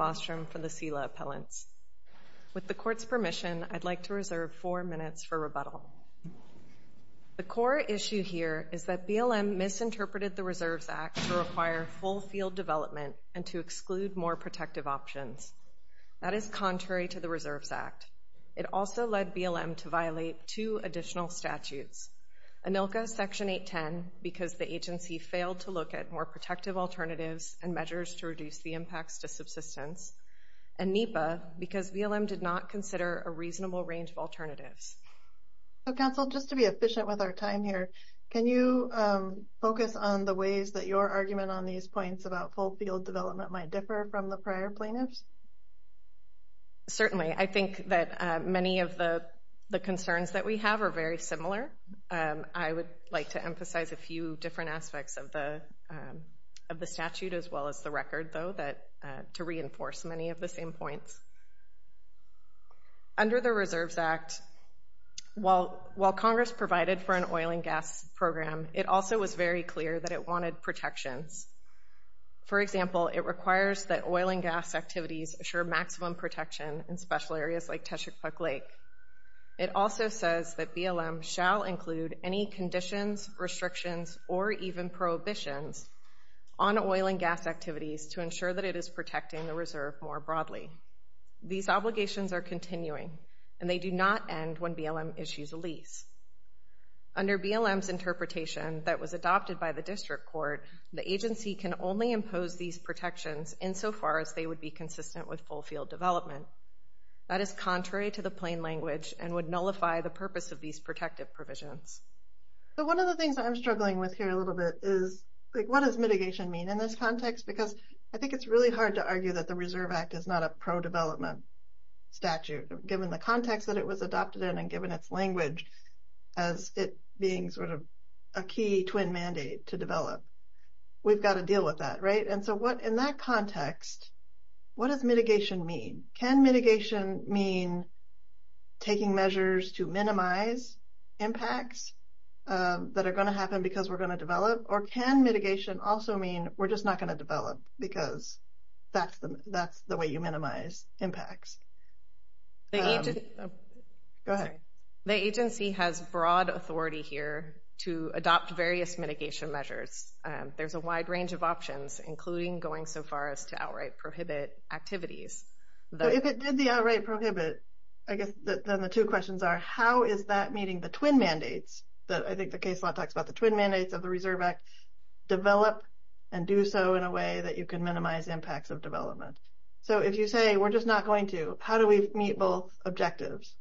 Bostrom for the SELA Appellants. With the Court's permission, I'd like to reserve four minutes for rebuttal. The core issue here is that BLM misinterpreted the Reserves Act to require full field development and to exclude more protective options. That is contrary to the Reserves Act. It also led BLM to violate two additional statutes, ANILCA Section 810, because the NEPA, because BLM did not consider a reasonable range of alternatives. So, Counsel, just to be efficient with our time here, can you focus on the ways that your argument on these points about full field development might differ from the prior plaintiffs? Certainly. I think that many of the concerns that we have are very similar. I would like to emphasize a few different aspects of the statute as well as the record, though, to reinforce many of the same points. Under the Reserves Act, while Congress provided for an oil and gas program, it also was very clear that it wanted protections. For example, it requires that oil and gas activities assure maximum protection in special areas like Teshekpuk Lake. It also says that BLM shall include any conditions, restrictions, or even prohibitions on oil and gas activities to ensure that it is protecting the Reserve more broadly. These obligations are continuing, and they do not end when BLM issues a lease. Under BLM's interpretation that was adopted by the District Court, the agency can only impose these protections insofar as they would be consistent with full field development. That is contrary to the plain language and would nullify the purpose of these protective provisions. So, one of the things I'm struggling with here a little bit is, like, what does mitigation mean in this context? Because I think it's really hard to argue that the Reserve Act is not a pro-development statute, given the context that it was adopted in and given its language as it being sort of a key twin mandate to develop. We've got to deal with that, right? And so, in that context, what does mitigation mean? Can mitigation mean taking measures to minimize impacts that are going to happen because we're not going to develop? Or can mitigation also mean we're just not going to develop because that's the way you minimize impacts? Go ahead. Sorry. The agency has broad authority here to adopt various mitigation measures. There's a wide range of options, including going so far as to outright prohibit activities. So, if it did the outright prohibit, I guess then the two questions are, how is that meeting the twin mandates? I think the case law talks about the twin mandates of the Reserve Act. Develop and do so in a way that you can minimize impacts of development. So, if you say, we're just not going to, how do we meet both objectives?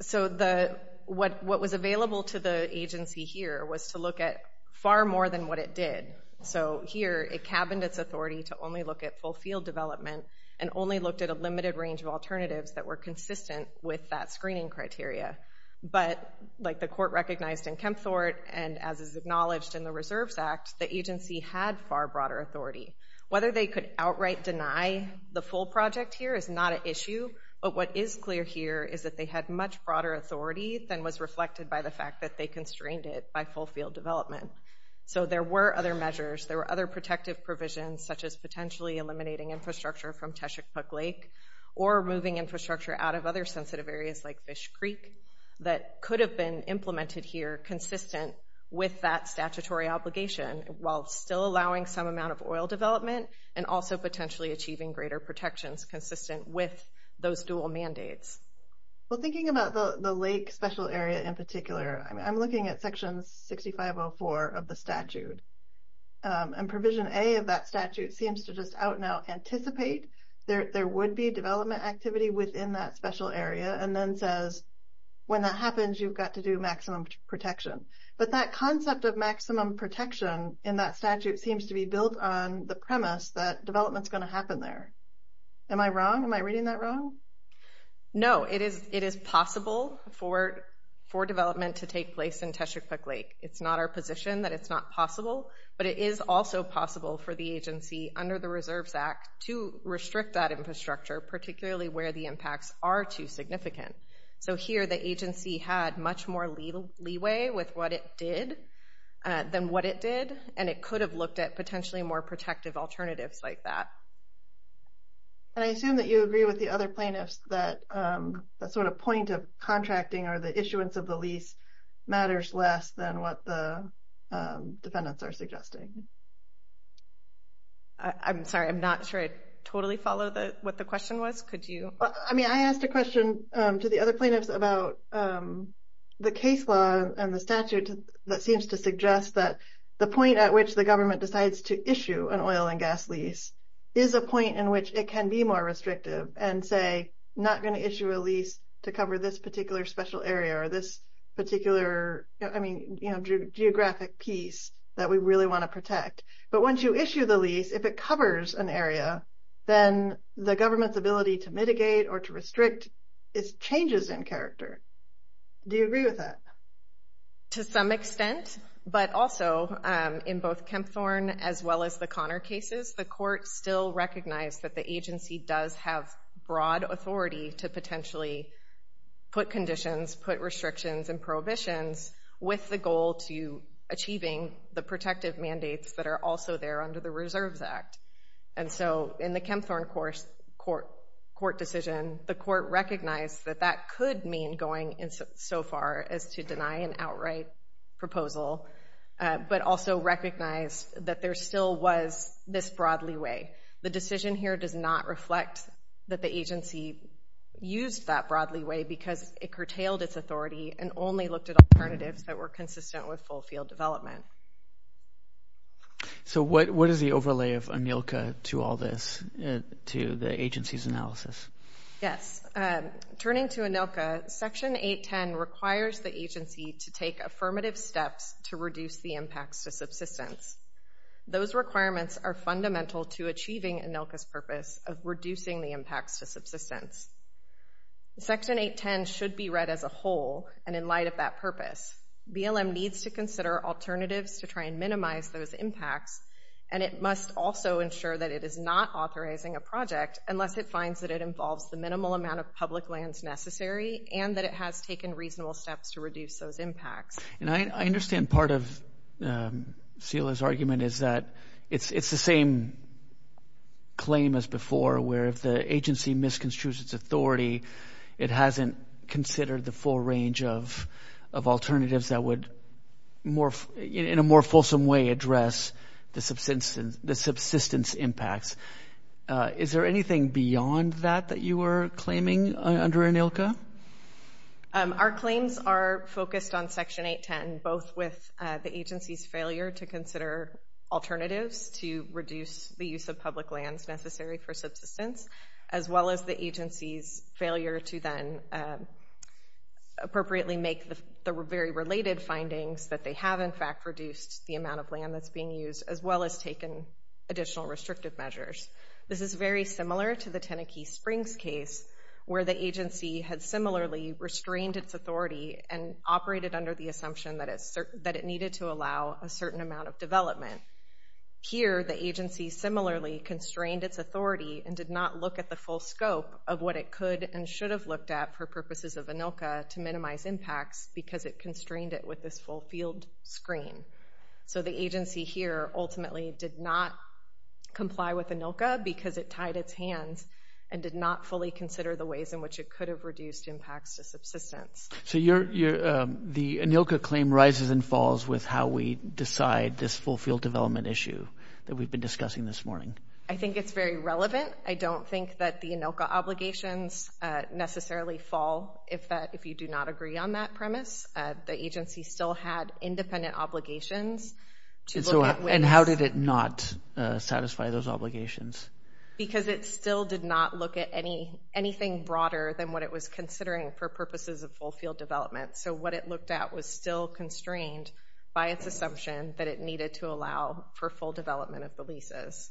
So what was available to the agency here was to look at far more than what it did. So here, it cabined its authority to only look at full field development and only looked at a limited range of alternatives that were consistent with that screening criteria. But like the court recognized in Kempthorpe and as is acknowledged in the Reserves Act, the agency had far broader authority. Whether they could outright deny the full project here is not an issue. But what is clear here is that they had much broader authority than was reflected by the fact that they constrained it by full field development. So there were other measures. There were other protective provisions, such as potentially eliminating infrastructure from Teshikpuk Lake or moving infrastructure out of other sensitive areas like Fish Creek that could have been implemented here consistent with that statutory obligation while still allowing some amount of oil development and also potentially achieving greater protections consistent with those dual mandates. Well, thinking about the lake special area in particular, I'm looking at Section 6504 of the statute. And Provision A of that statute seems to just out now anticipate there would be development activity within that special area and then says, when that happens, you've got to do maximum protection. But that concept of maximum protection in that statute seems to be built on the premise that development's going to happen there. Am I wrong? Am I reading that wrong? No. It is possible for development to take place in Teshikpuk Lake. It's not our position that it's not possible, but it is also possible for the agency under the Reserves Act to restrict that infrastructure, particularly where the impacts are too significant. So here, the agency had much more leeway with what it did than what it did, and it could have looked at potentially more protective alternatives like that. And I assume that you agree with the other plaintiffs that that sort of point of contracting or the issuance of the lease matters less than what the defendants are suggesting. I'm sorry, I'm not sure I totally follow what the question was. Could you? I mean, I asked a question to the other plaintiffs about the case law and the statute that seems to suggest that the point at which the government decides to issue an oil and gas lease is a point in which it can be more restrictive and say, not going to issue a lease to cover this particular special area or this particular, I mean, geographic piece that we really want to protect. But once you issue the lease, if it covers an area, then the government's ability to mitigate or to restrict changes in character. Do you agree with that? To some extent, but also in both Kempthorne as well as the Connor cases, the court still recognized that the agency does have broad authority to potentially put conditions, put restrictions and prohibitions with the goal to achieving the protective mandates that are also there under the Reserves Act. And so in the Kempthorne court decision, the court recognized that that could mean going in so far as to deny an outright proposal, but also recognized that there still was this broad leeway. The decision here does not reflect that the agency used that broad leeway because it curtailed its authority and only looked at alternatives that were consistent with full field development. So what is the overlay of ANILCA to all this, to the agency's analysis? Yes. Turning to ANILCA, Section 810 requires the agency to take affirmative steps to reduce the impacts to subsistence. Those requirements are fundamental to achieving ANILCA's purpose of reducing the impacts to subsistence. Section 810 should be read as a whole, and in light of that purpose, BLM needs to consider alternatives to try and minimize those impacts, and it must also ensure that it is not authorizing a project unless it finds that it involves the minimal amount of public lands necessary and that it has taken reasonable steps to reduce those impacts. And I understand part of Celia's argument is that it's the same claim as before, where if the agency misconstrues its authority, it hasn't considered the full range of alternatives that would, in a more fulsome way, address the subsistence impacts. Is there anything beyond that that you were claiming under ANILCA? Our claims are focused on Section 810, both with the agency's failure to consider alternatives to reduce the use of public lands necessary for subsistence, as well as the agency's failure to then appropriately make the very related findings that they have, in fact, reduced the amount of land that's being used, as well as taken additional restrictive measures. This is very similar to the Tenekee Springs case, where the agency had similarly restrained its authority and operated under the assumption that it needed to allow a certain amount of development. Here, the agency similarly constrained its authority and did not look at the full scope of what it could and should have looked at for purposes of ANILCA to minimize impacts because it constrained it with this full field screen. So the agency here ultimately did not comply with ANILCA because it tied its hands and did not fully consider the ways in which it could have reduced impacts to subsistence. So the ANILCA claim rises and falls with how we decide this full field development issue that we've been discussing this morning? I think it's very relevant. I don't think that the ANILCA obligations necessarily fall if you do not agree on that premise. The agency still had independent obligations to look at ways... And how did it not satisfy those obligations? Because it still did not look at anything broader than what it was considering for purposes of full field development. So what it looked at was still constrained by its assumption that it needed to allow for full development of the leases.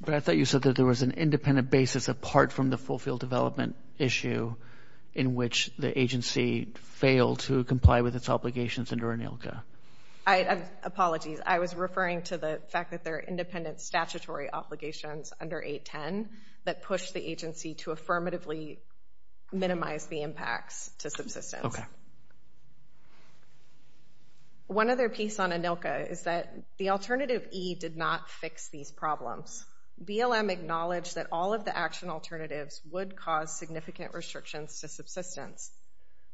But I thought you said that there was an independent basis apart from the full field development issue in which the agency failed to comply with its obligations under ANILCA. Apologies. I was referring to the fact that there are independent statutory obligations under 810 that push the agency to affirmatively minimize the impacts to subsistence. One other piece on ANILCA is that the alternative E did not fix these problems. BLM acknowledged that all of the action alternatives would cause significant restrictions to subsistence.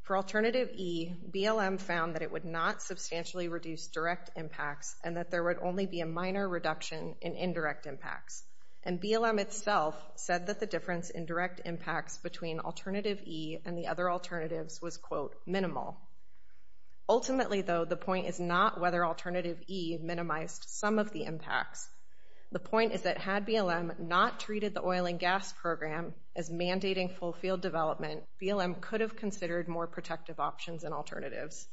For alternative E, BLM found that it would not substantially reduce direct impacts and that there would only be a minor reduction in indirect impacts. And BLM itself said that the difference in direct impacts between alternative E and the other alternatives was, quote, minimal. Ultimately, though, the point is not whether alternative E minimized some of the impacts. The point is that had BLM not treated the oil and gas program as mandating full field development, BLM could have considered more protective options and alternatives.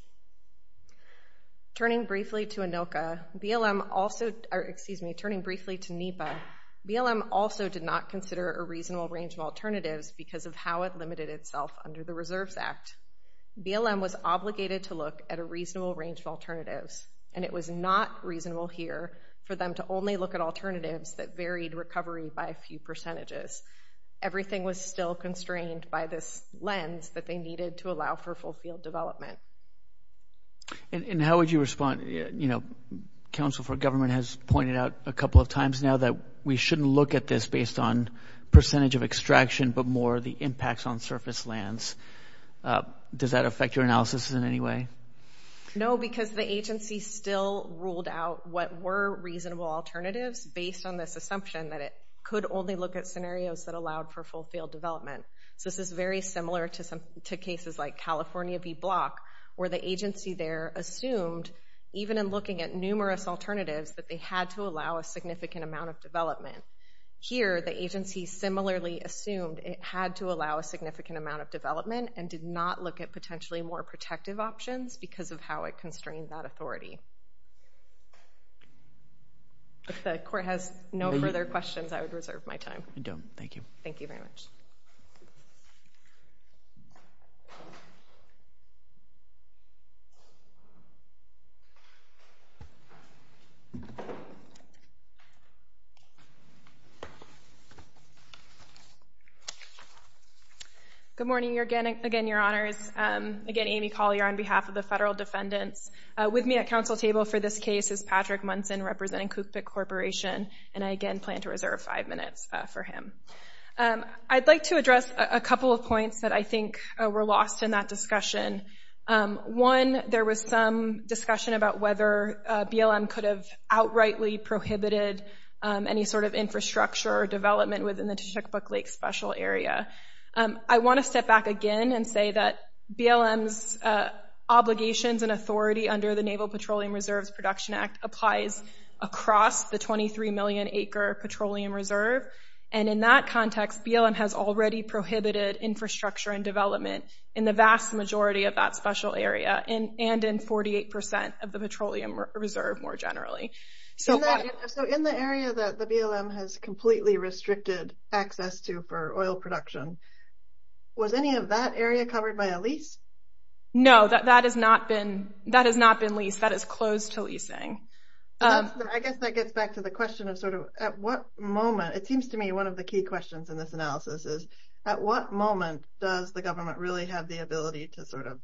Turning briefly to ANILCA, BLM also, excuse me, turning briefly to NEPA, BLM also did not consider a reasonable range of alternatives because of how it limited itself under the Reserves Act. BLM was obligated to look at a reasonable range of alternatives, and it was not reasonable here for them to only look at alternatives that varied recovery by a few percentages. Everything was still constrained by this lens that they needed to allow for full field development. And how would you respond, you know, counsel for government has pointed out a couple of times now that we shouldn't look at this based on percentage of extraction, but more the impacts on surface lands. Does that affect your analysis in any way? No, because the agency still ruled out what were reasonable alternatives based on this assumption that it could only look at scenarios that allowed for full field development. So this is very similar to cases like California v. Block, where the agency there assumed, even in looking at numerous alternatives, that they had to allow a significant amount of development. Here, the agency similarly assumed it had to allow a significant amount of development and did not look at potentially more protective options because of how it constrained that authority. If the court has no further questions, I would reserve my time. I don't. Thank you. Thank you very much. Good morning. Again, your honors. Again, Amy Collier on behalf of the federal defendants. With me at council table for this case is Patrick Munson, representing Cookpit Corporation. And I, again, plan to reserve five minutes for him. I'd like to address a couple of points that I think were lost in that discussion. One, there was some discussion about whether BLM could have outrightly prohibited any sort of infrastructure or development within the Chickapook Lake Special Area. I want to step back again and say that BLM's obligations and authority under the Naval Petroleum Reserves Production Act applies across the 23 million acre petroleum reserve. And in that context, BLM has already prohibited infrastructure and development in the vast majority of that special area and in 48% of the petroleum reserve more generally. So in the area that the BLM has completely restricted access to for oil production, was any of that area covered by a lease? No, that has not been leased. That is closed to leasing. I guess that gets back to the question of sort of at what moment, it seems to me one of the key questions in this analysis is, at what moment does the government really have the ability to sort of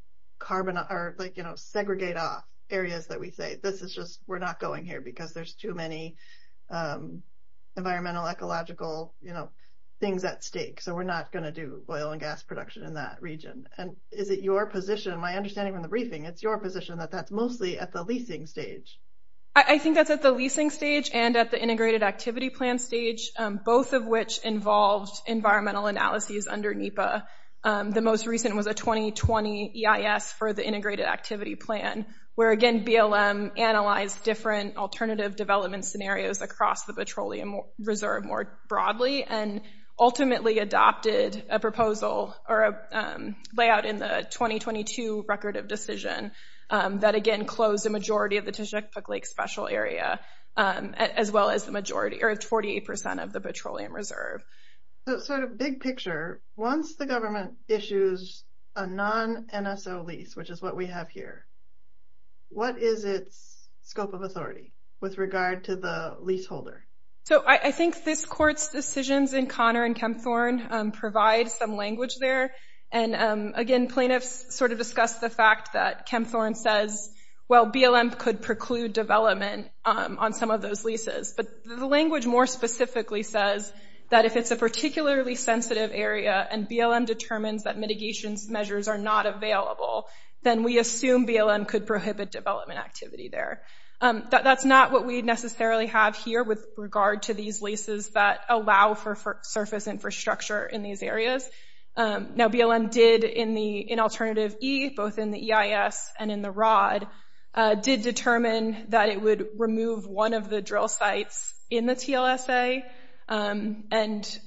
segregate off areas that we say, this is just, we're not going here because there's too many environmental, ecological, you know, things at stake. So we're not going to do oil and gas production in that region. And is it your position, my understanding from the briefing, it's your position that that's mostly at the leasing stage? I think that's at the leasing stage and at the integrated activity plan stage, both of which involved environmental analyses under NEPA. The most recent was a 2020 EIS for the integrated activity plan, where again, BLM analyzed different alternative development scenarios across the petroleum reserve more broadly and ultimately adopted a proposal or a layout in the 2022 Record of Decision that again closed a majority of the Tishnek-Pook Lake Special Area, as well as the majority or 48% of the petroleum reserve. So sort of big picture, once the government issues a non-NSO lease, which is what we have here, what is its scope of authority with regard to the leaseholder? So I think this court's decisions in Connor and Kempthorne provide some language there. And again, plaintiffs sort of discussed the fact that Kempthorne says, well, BLM could preclude development on some of those leases. But the language more specifically says that if it's a particularly sensitive area and we assume BLM could prohibit development activity there. That's not what we necessarily have here with regard to these leases that allow for surface infrastructure in these areas. Now BLM did in alternative E, both in the EIS and in the ROD, did determine that it would remove one of the drill sites in the TLSA and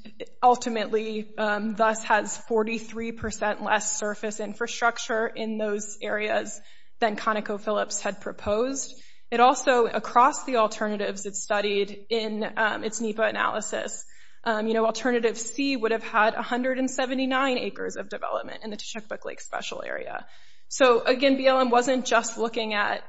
ultimately thus has 43% less surface infrastructure in those areas than ConocoPhillips had proposed. It also, across the alternatives it studied in its NEPA analysis, alternative C would have had 179 acres of development in the Tishookbook Lake Special Area. So again, BLM wasn't just looking at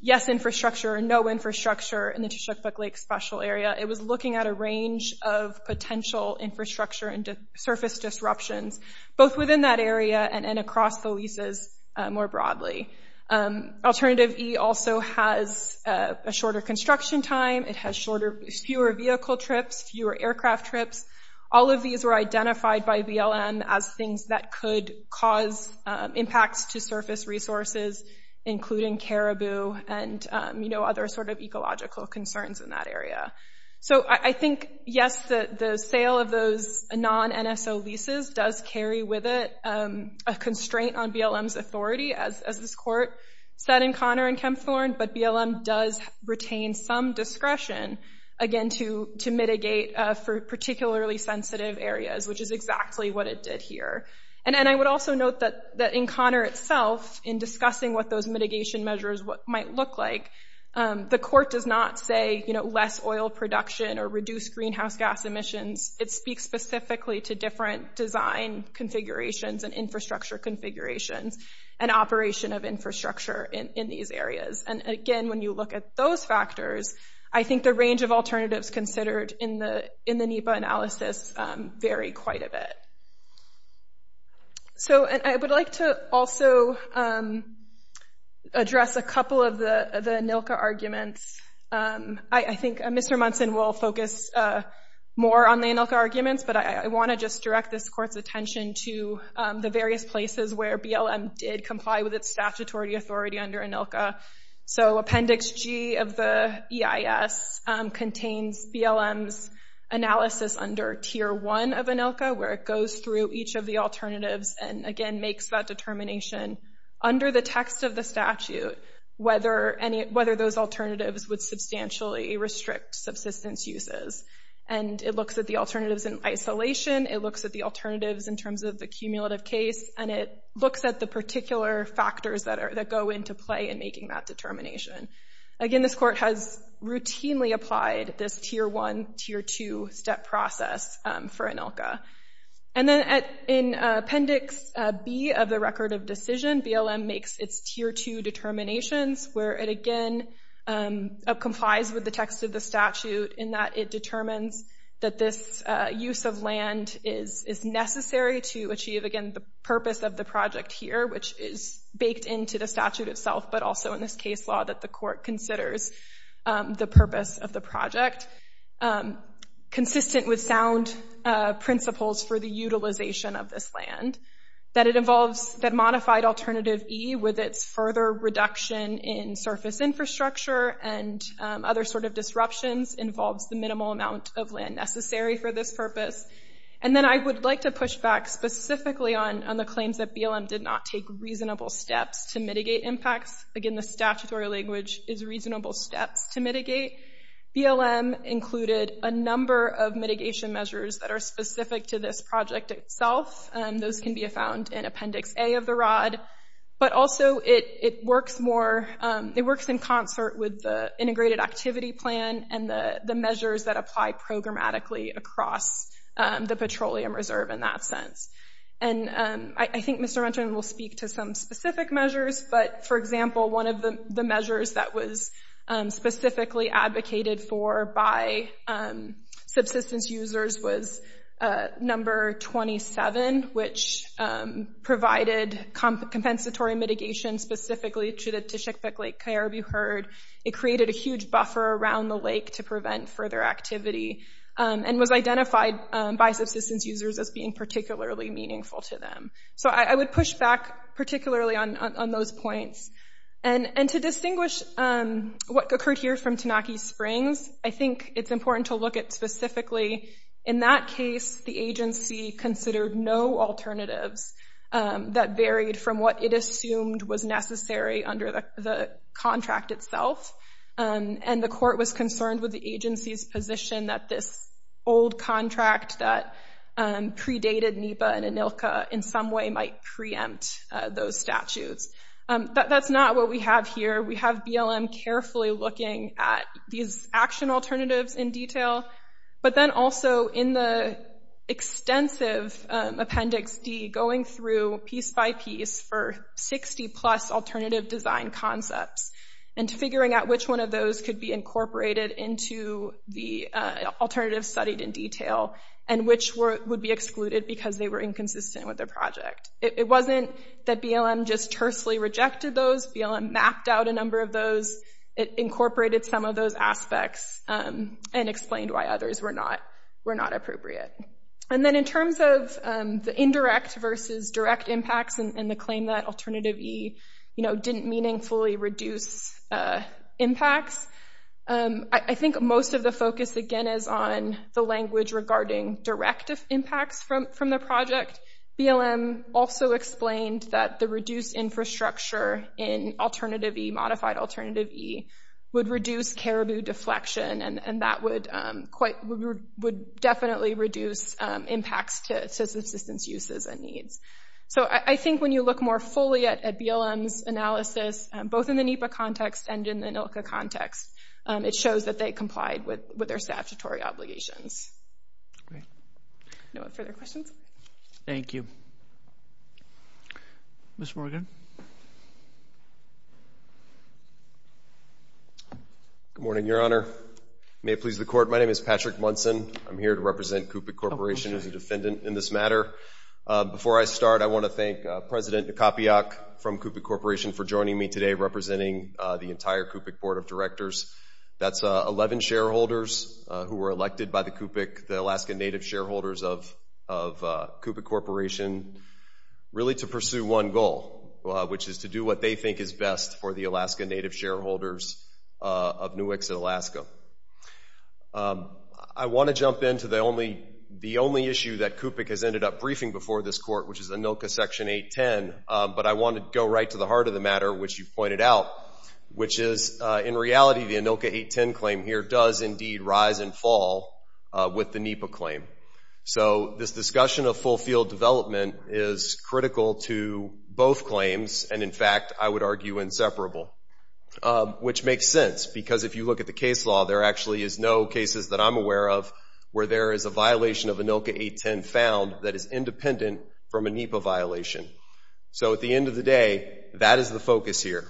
yes infrastructure, no infrastructure in the Tishookbook Lake Special Area. It was looking at a range of potential infrastructure and surface disruptions, both within that and across the leases more broadly. Alternative E also has a shorter construction time. It has fewer vehicle trips, fewer aircraft trips. All of these were identified by BLM as things that could cause impacts to surface resources, including caribou and other sort of ecological concerns in that area. So I think, yes, the sale of those non-NSO leases does carry with it a constraint on BLM's authority, as this court said in Connor and Kempthorne. But BLM does retain some discretion, again, to mitigate for particularly sensitive areas, which is exactly what it did here. And I would also note that in Connor itself, in discussing what those mitigation measures might look like, the court does not say, you know, less oil production or reduce greenhouse gas emissions. It speaks specifically to different design configurations and infrastructure configurations and operation of infrastructure in these areas. And again, when you look at those factors, I think the range of alternatives considered in the NEPA analysis vary quite a bit. So I would like to also address a couple of the ANILCA arguments. I think Mr. Munson will focus more on the ANILCA arguments, but I want to just direct this court's attention to the various places where BLM did comply with its statutory authority under ANILCA. So Appendix G of the EIS contains BLM's analysis under Tier 1 of ANILCA, where it goes through each of the alternatives and, again, makes that determination under the text of the statute whether those alternatives would substantially restrict subsistence uses. And it looks at the alternatives in isolation. It looks at the alternatives in terms of the cumulative case. And it looks at the particular factors that go into play in making that determination. Again, this court has routinely applied this Tier 1, Tier 2 step process for ANILCA. And then in Appendix B of the Record of Decision, BLM makes its Tier 2 determinations, where it, again, complies with the text of the statute in that it determines that this use of land is necessary to achieve, again, the purpose of the project here, which is baked into the statute itself, but also in this case law that the court considers the purpose of the project, consistent with sound principles for the utilization of this land, that it involves that modified alternative E with its further reduction in surface infrastructure and other sort of disruptions involves the minimal amount of land necessary for this purpose. And then I would like to push back specifically on the claims that BLM did not take reasonable steps to mitigate impacts. Again, the statutory language is reasonable steps to mitigate. BLM included a number of mitigation measures that are specific to this project itself. Those can be found in Appendix A of the Rod. But also it works more, it works in concert with the Integrated Activity Plan and the Petroleum Reserve in that sense. And I think Mr. Renton will speak to some specific measures. But for example, one of the measures that was specifically advocated for by subsistence users was number 27, which provided compensatory mitigation specifically to the Tishikbek Lake Coyarabu Herd. It created a huge buffer around the lake to prevent further activity and was identified by subsistence users as being particularly meaningful to them. So I would push back particularly on those points. And to distinguish what occurred here from Tanaki Springs, I think it's important to look at specifically, in that case, the agency considered no alternatives that varied from what it assumed was necessary under the contract itself. And the court was concerned with the agency's position that this old contract that predated NEPA and ANILCA in some way might preempt those statutes. That's not what we have here. We have BLM carefully looking at these action alternatives in detail. But then also in the extensive Appendix D, going through piece by piece for 60-plus alternative design concepts and figuring out which one of those could be incorporated into the alternatives studied in detail and which would be excluded because they were inconsistent with the project. It wasn't that BLM just tersely rejected those. BLM mapped out a number of those. It incorporated some of those aspects and explained why others were not appropriate. And then in terms of the indirect versus direct impacts and the claim that Alternative E didn't meaningfully reduce impacts, I think most of the focus, again, is on the language regarding direct impacts from the project. BLM also explained that the reduced infrastructure in Alternative E, modified Alternative E, would reduce caribou deflection and that would definitely reduce impacts to subsistence uses and needs. So, I think when you look more fully at BLM's analysis, both in the NEPA context and in the ANILCA context, it shows that they complied with their statutory obligations. No further questions? Thank you. Mr. Morgan? Good morning, Your Honor. May it please the Court, my name is Patrick Munson. I'm here to represent CUPIC Corporation as a defendant in this matter. Before I start, I want to thank President Kopiak from CUPIC Corporation for joining me today representing the entire CUPIC Board of Directors. That's 11 shareholders who were elected by the CUPIC, the Alaska Native shareholders of CUPIC Corporation, really to pursue one goal, which is to do what they think is best for the Alaska Native shareholders of NUIX in Alaska. I want to jump into the only issue that CUPIC has ended up briefing before this Court, which is ANILCA Section 810, but I want to go right to the heart of the matter, which you pointed out, the ANILCA 810 claim here does indeed rise and fall with the NEPA claim. So this discussion of full field development is critical to both claims, and in fact, I would argue inseparable, which makes sense because if you look at the case law, there actually is no cases that I'm aware of where there is a violation of ANILCA 810 found that is independent from a NEPA violation. So at the end of the day, that is the focus here.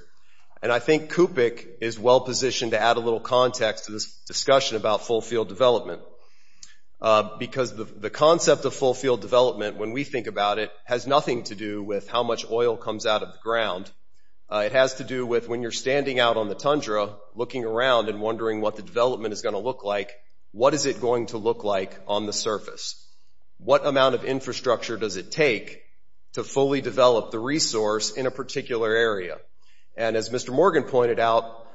I think CUPIC is well positioned to add a little context to this discussion about full field development because the concept of full field development, when we think about it, has nothing to do with how much oil comes out of the ground. It has to do with when you're standing out on the tundra looking around and wondering what the development is going to look like, what is it going to look like on the surface? What amount of infrastructure does it take to fully develop the resource in a particular area? And as Mr. Morgan pointed out,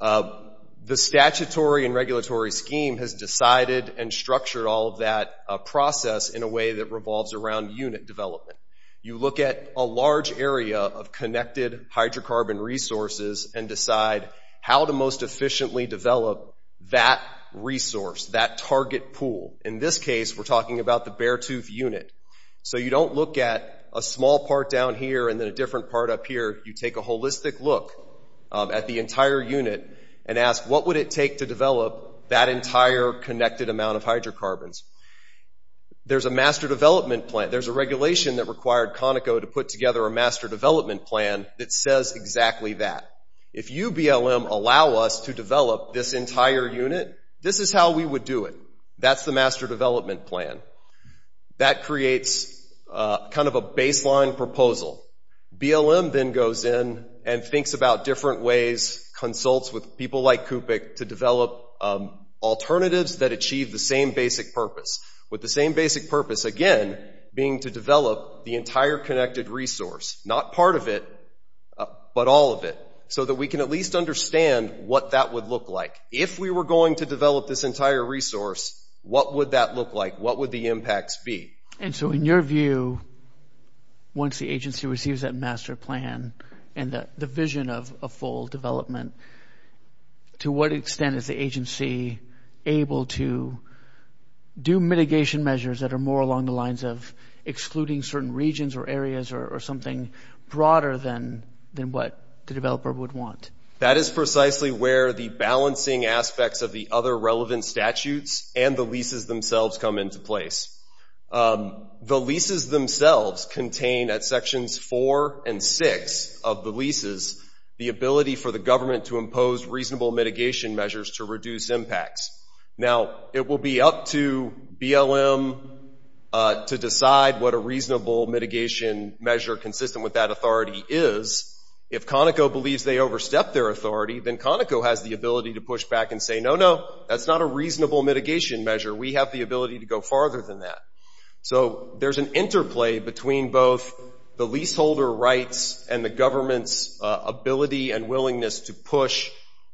the statutory and regulatory scheme has decided and structured all of that process in a way that revolves around unit development. You look at a large area of connected hydrocarbon resources and decide how to most efficiently develop that resource, that target pool. In this case, we're talking about the Beartooth unit. So you don't look at a small part down here and then a different part up here. You take a holistic look at the entire unit and ask, what would it take to develop that entire connected amount of hydrocarbons? There's a master development plan. There's a regulation that required Conoco to put together a master development plan that says exactly that. If UBLM allow us to develop this entire unit, this is how we would do it. That's the master development plan. That creates kind of a baseline proposal. BLM then goes in and thinks about different ways, consults with people like Kupic to develop alternatives that achieve the same basic purpose, with the same basic purpose, again, being to develop the entire connected resource, not part of it, but all of it, so that we can at least understand what that would look like. If we were going to develop this entire resource, what would that look like? What would the impacts be? And so in your view, once the agency receives that master plan and the vision of a full development, to what extent is the agency able to do mitigation measures that are more along the lines of excluding certain regions or areas or something broader than what the developer would want? That is precisely where the balancing aspects of the other relevant statutes and the leases themselves come into place. The leases themselves contain, at sections four and six of the leases, the ability for the government to impose reasonable mitigation measures to reduce impacts. Now it will be up to BLM to decide what a reasonable mitigation measure consistent with that authority is. If Conoco believes they overstepped their authority, then Conoco has the ability to push back and say, no, no, that's not a reasonable mitigation measure. We have the ability to go farther than that. So there's an interplay between both the leaseholder rights and the government's ability and willingness to push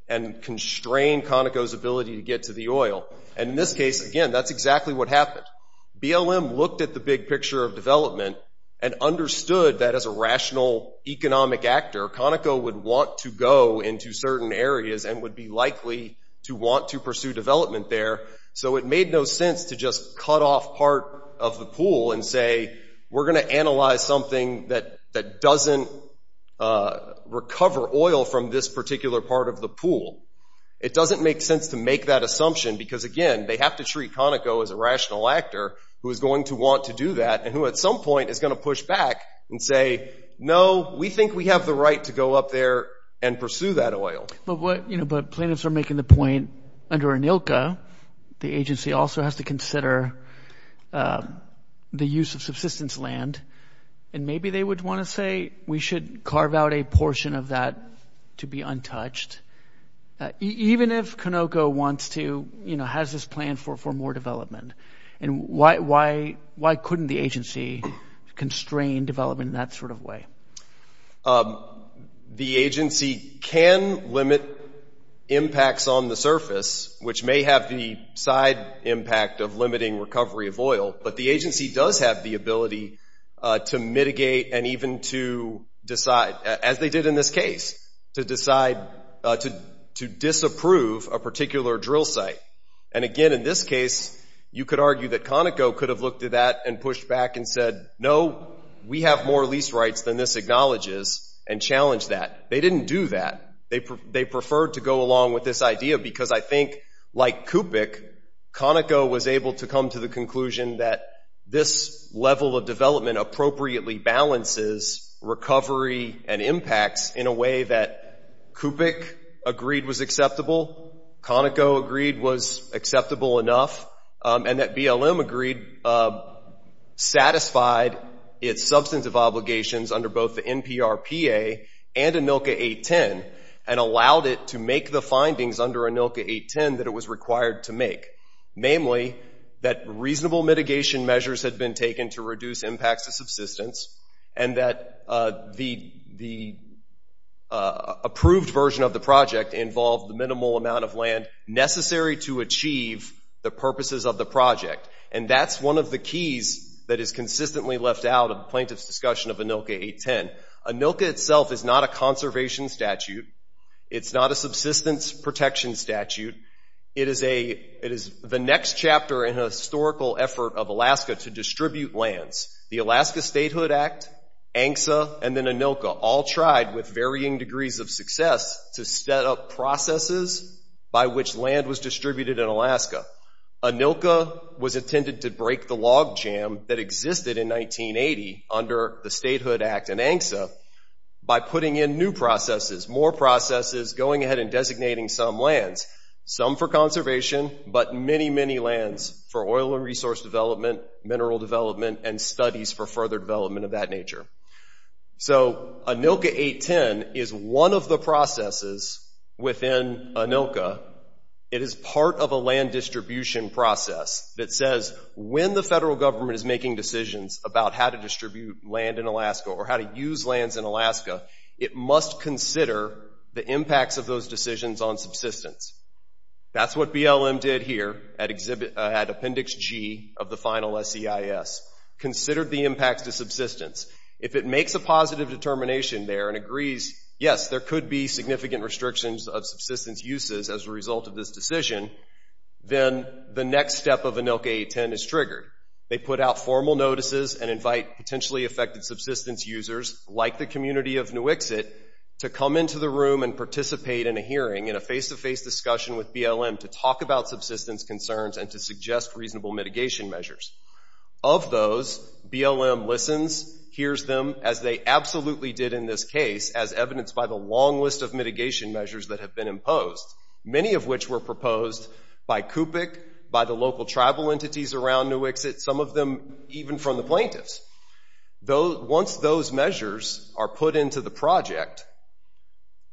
and constrain Conoco's ability to get to the oil. And in this case, again, that's exactly what happened. BLM looked at the big picture of development and understood that as a rational economic actor, Conoco would want to go into certain areas and would be likely to want to pursue development there. So it made no sense to just cut off part of the pool and say, we're going to analyze something that doesn't recover oil from this particular part of the pool. It doesn't make sense to make that assumption because, again, they have to treat Conoco as a rational actor who is going to want to do that and who at some point is going to push back and say, no, we think we have the right to go up there and pursue that oil. But what, you know, but plaintiffs are making the point under ANILCA, the agency also has to consider the use of subsistence land. And maybe they would want to say we should carve out a portion of that to be untouched. Even if Conoco wants to, you know, has this plan for more development. And why couldn't the agency constrain development in that sort of way? The agency can limit impacts on the surface, which may have the side impact of limiting recovery of oil. But the agency does have the ability to mitigate and even to decide, as they did in this case, to decide to disapprove a particular drill site. And again, in this case, you could argue that Conoco could have looked at that and pushed back and said, no, we have more lease rights than this acknowledges and challenged that. They didn't do that. They preferred to go along with this idea because I think, like CUPIC, Conoco was able to come to the conclusion that this level of development appropriately balances recovery and impacts in a way that CUPIC agreed was acceptable, Conoco agreed was acceptable enough, and that BLM agreed satisfied its substantive obligations under both the NPRPA and ANILCA 810 and allowed it to make the findings under ANILCA 810 that it was required to make, namely that reasonable mitigation measures had been taken to reduce impacts of subsistence and that the approved version of the project involved the minimal amount of land necessary to achieve the purposes of the project. And that's one of the keys that is consistently left out of the plaintiff's discussion of ANILCA 810. ANILCA itself is not a conservation statute. It's not a subsistence protection statute. It is the next chapter in a historical effort of Alaska to distribute lands. The Alaska Statehood Act, ANCSA, and then ANILCA all tried with varying degrees of success to set up processes by which land was distributed in Alaska. ANILCA was intended to break the log jam that existed in 1980 under the Statehood Act and ANCSA by putting in new processes, more processes, going ahead and designating some lands, some for conservation, but many, many lands for oil and resource development, mineral development, and studies for further development of that nature. So, ANILCA 810 is one of the processes within ANILCA. It is part of a land distribution process that says when the federal government is making decisions about how to distribute land in Alaska or how to use lands in Alaska, it must consider the impacts of those decisions on subsistence. That's what BLM did here at Appendix G of the final SEIS. Considered the impacts to subsistence. If it makes a positive determination there and agrees, yes, there could be significant restrictions of subsistence uses as a result of this decision, then the next step of ANILCA 810 is triggered. They put out formal notices and invite potentially affected subsistence users, like the community of Nuiqsut, to come into the room and participate in a hearing, in a face-to-face discussion with BLM to talk about subsistence concerns and to suggest reasonable mitigation measures. Of those, BLM listens, hears them, as they absolutely did in this case, as evidenced by the long list of mitigation measures that have been imposed, many of which were proposed by CUPC, by the local tribal entities around Nuiqsut, some of them even from the plaintiffs. Once those measures are put into the project,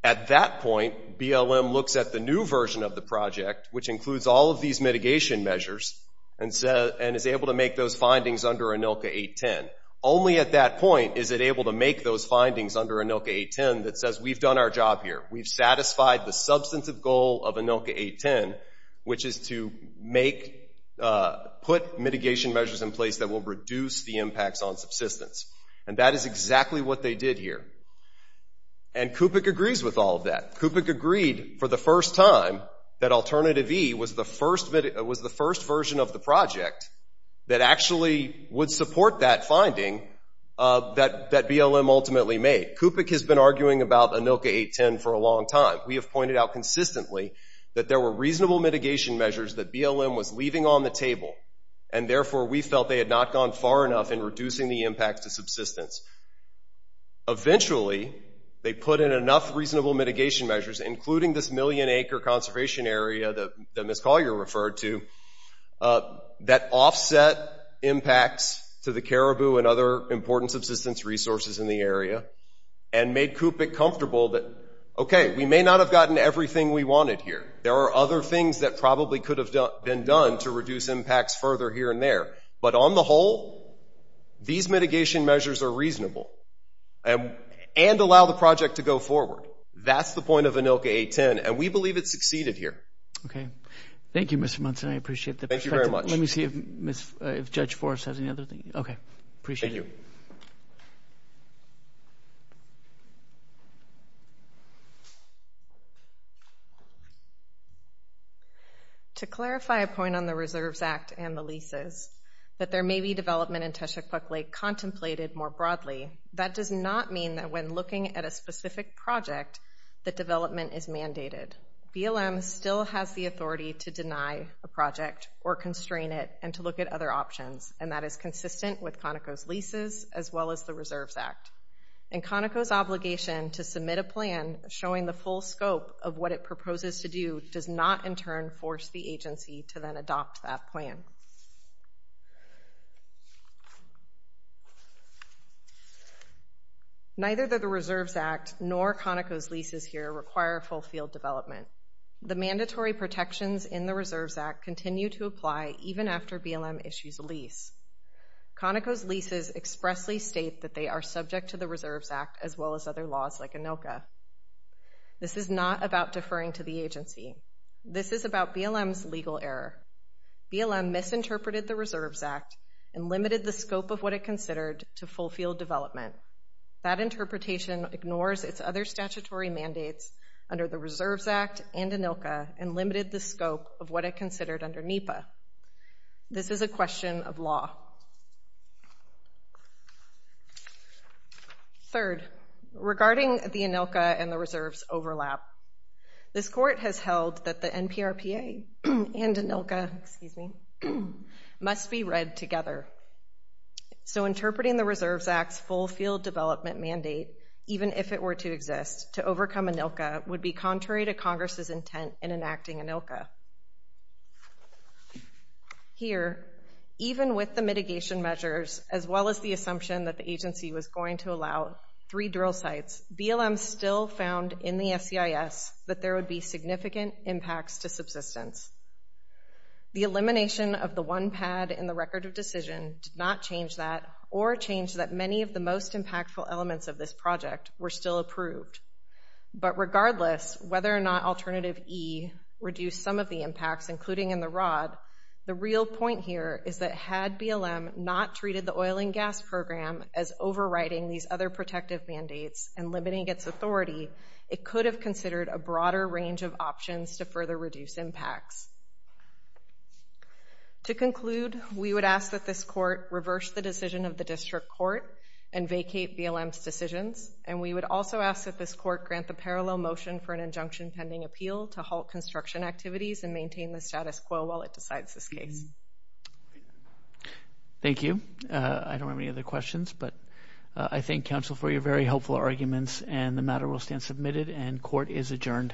at that point, BLM looks at the new version of the project, which includes all of these mitigation measures, and is able to make those findings under ANILCA 810. Only at that point is it able to make those findings under ANILCA 810 that says, we've done our job here. We've satisfied the substantive goal of ANILCA 810, which is to put mitigation measures in place that will reduce the impacts on subsistence. And that is exactly what they did here. And CUPC agrees with all of that. CUPC agreed for the first time that Alternative E was the first version of the project that actually would support that finding that BLM ultimately made. CUPC has been arguing about ANILCA 810 for a long time. We have pointed out consistently that there were reasonable mitigation measures that BLM was leaving on the table, and therefore, we felt they had not gone far enough in reducing the impacts to subsistence. Eventually, they put in enough reasonable mitigation measures, including this million acre conservation area that Ms. Collier referred to, that offset impacts to the caribou and other important subsistence resources in the area, and made CUPC comfortable that, okay, we may not have gotten everything we wanted here. There are other things that probably could have been done to reduce impacts further here and there. But on the whole, these mitigation measures are reasonable and allow the project to go forward. That's the point of ANILCA 810, and we believe it succeeded here. Okay. Thank you, Mr. Munson. I appreciate the perspective. Thank you very much. Let me see if Judge Forrest has any other thing. Okay. Appreciate it. Thank you. Thank you. To clarify a point on the Reserves Act and the leases, that there may be development in Teshekpuk Lake contemplated more broadly, that does not mean that when looking at a specific project, that development is mandated. BLM still has the authority to deny a project or constrain it and to look at other options, and that is consistent with Conoco's leases as well as the Reserves Act. And Conoco's obligation to submit a plan showing the full scope of what it proposes to do does not, in turn, force the agency to then adopt that plan. Neither the Reserves Act nor Conoco's leases here require full field development. The mandatory protections in the Reserves Act continue to apply even after BLM issues a lease. Conoco's leases expressly state that they are subject to the Reserves Act as well as other laws like ANILCA. This is not about deferring to the agency. This is about BLM's legal error. BLM misinterpreted the Reserves Act and limited the scope of what it considered to full field development. That interpretation ignores its other statutory mandates under the Reserves Act and ANILCA and limited the scope of what it considered under NEPA. This is a question of law. Third, regarding the ANILCA and the Reserves overlap, this Court has held that the NPRPA and ANILCA must be read together. So, interpreting the Reserves Act's full field development mandate, even if it were to exist, to overcome ANILCA would be contrary to Congress' intent in enacting ANILCA. Here, even with the mitigation measures as well as the assumption that the agency was going to allow three drill sites, BLM still found in the SEIS that there would be significant impacts to subsistence. The elimination of the one pad in the Record of Decision did not change that or change that many of the most impactful elements of this project were still approved. But regardless, whether or not Alternative E reduced some of the impacts, including in the ROD, the real point here is that had BLM not treated the oil and gas program as overriding these other protective mandates and limiting its authority, it could have considered a To conclude, we would ask that this Court reverse the decision of the District Court and vacate BLM's decisions, and we would also ask that this Court grant the parallel motion for an injunction pending appeal to halt construction activities and maintain the status quo while it decides this case. Thank you. I don't have any other questions, but I thank Council for your very helpful arguments, and the matter will stand submitted and Court is adjourned. Thank you.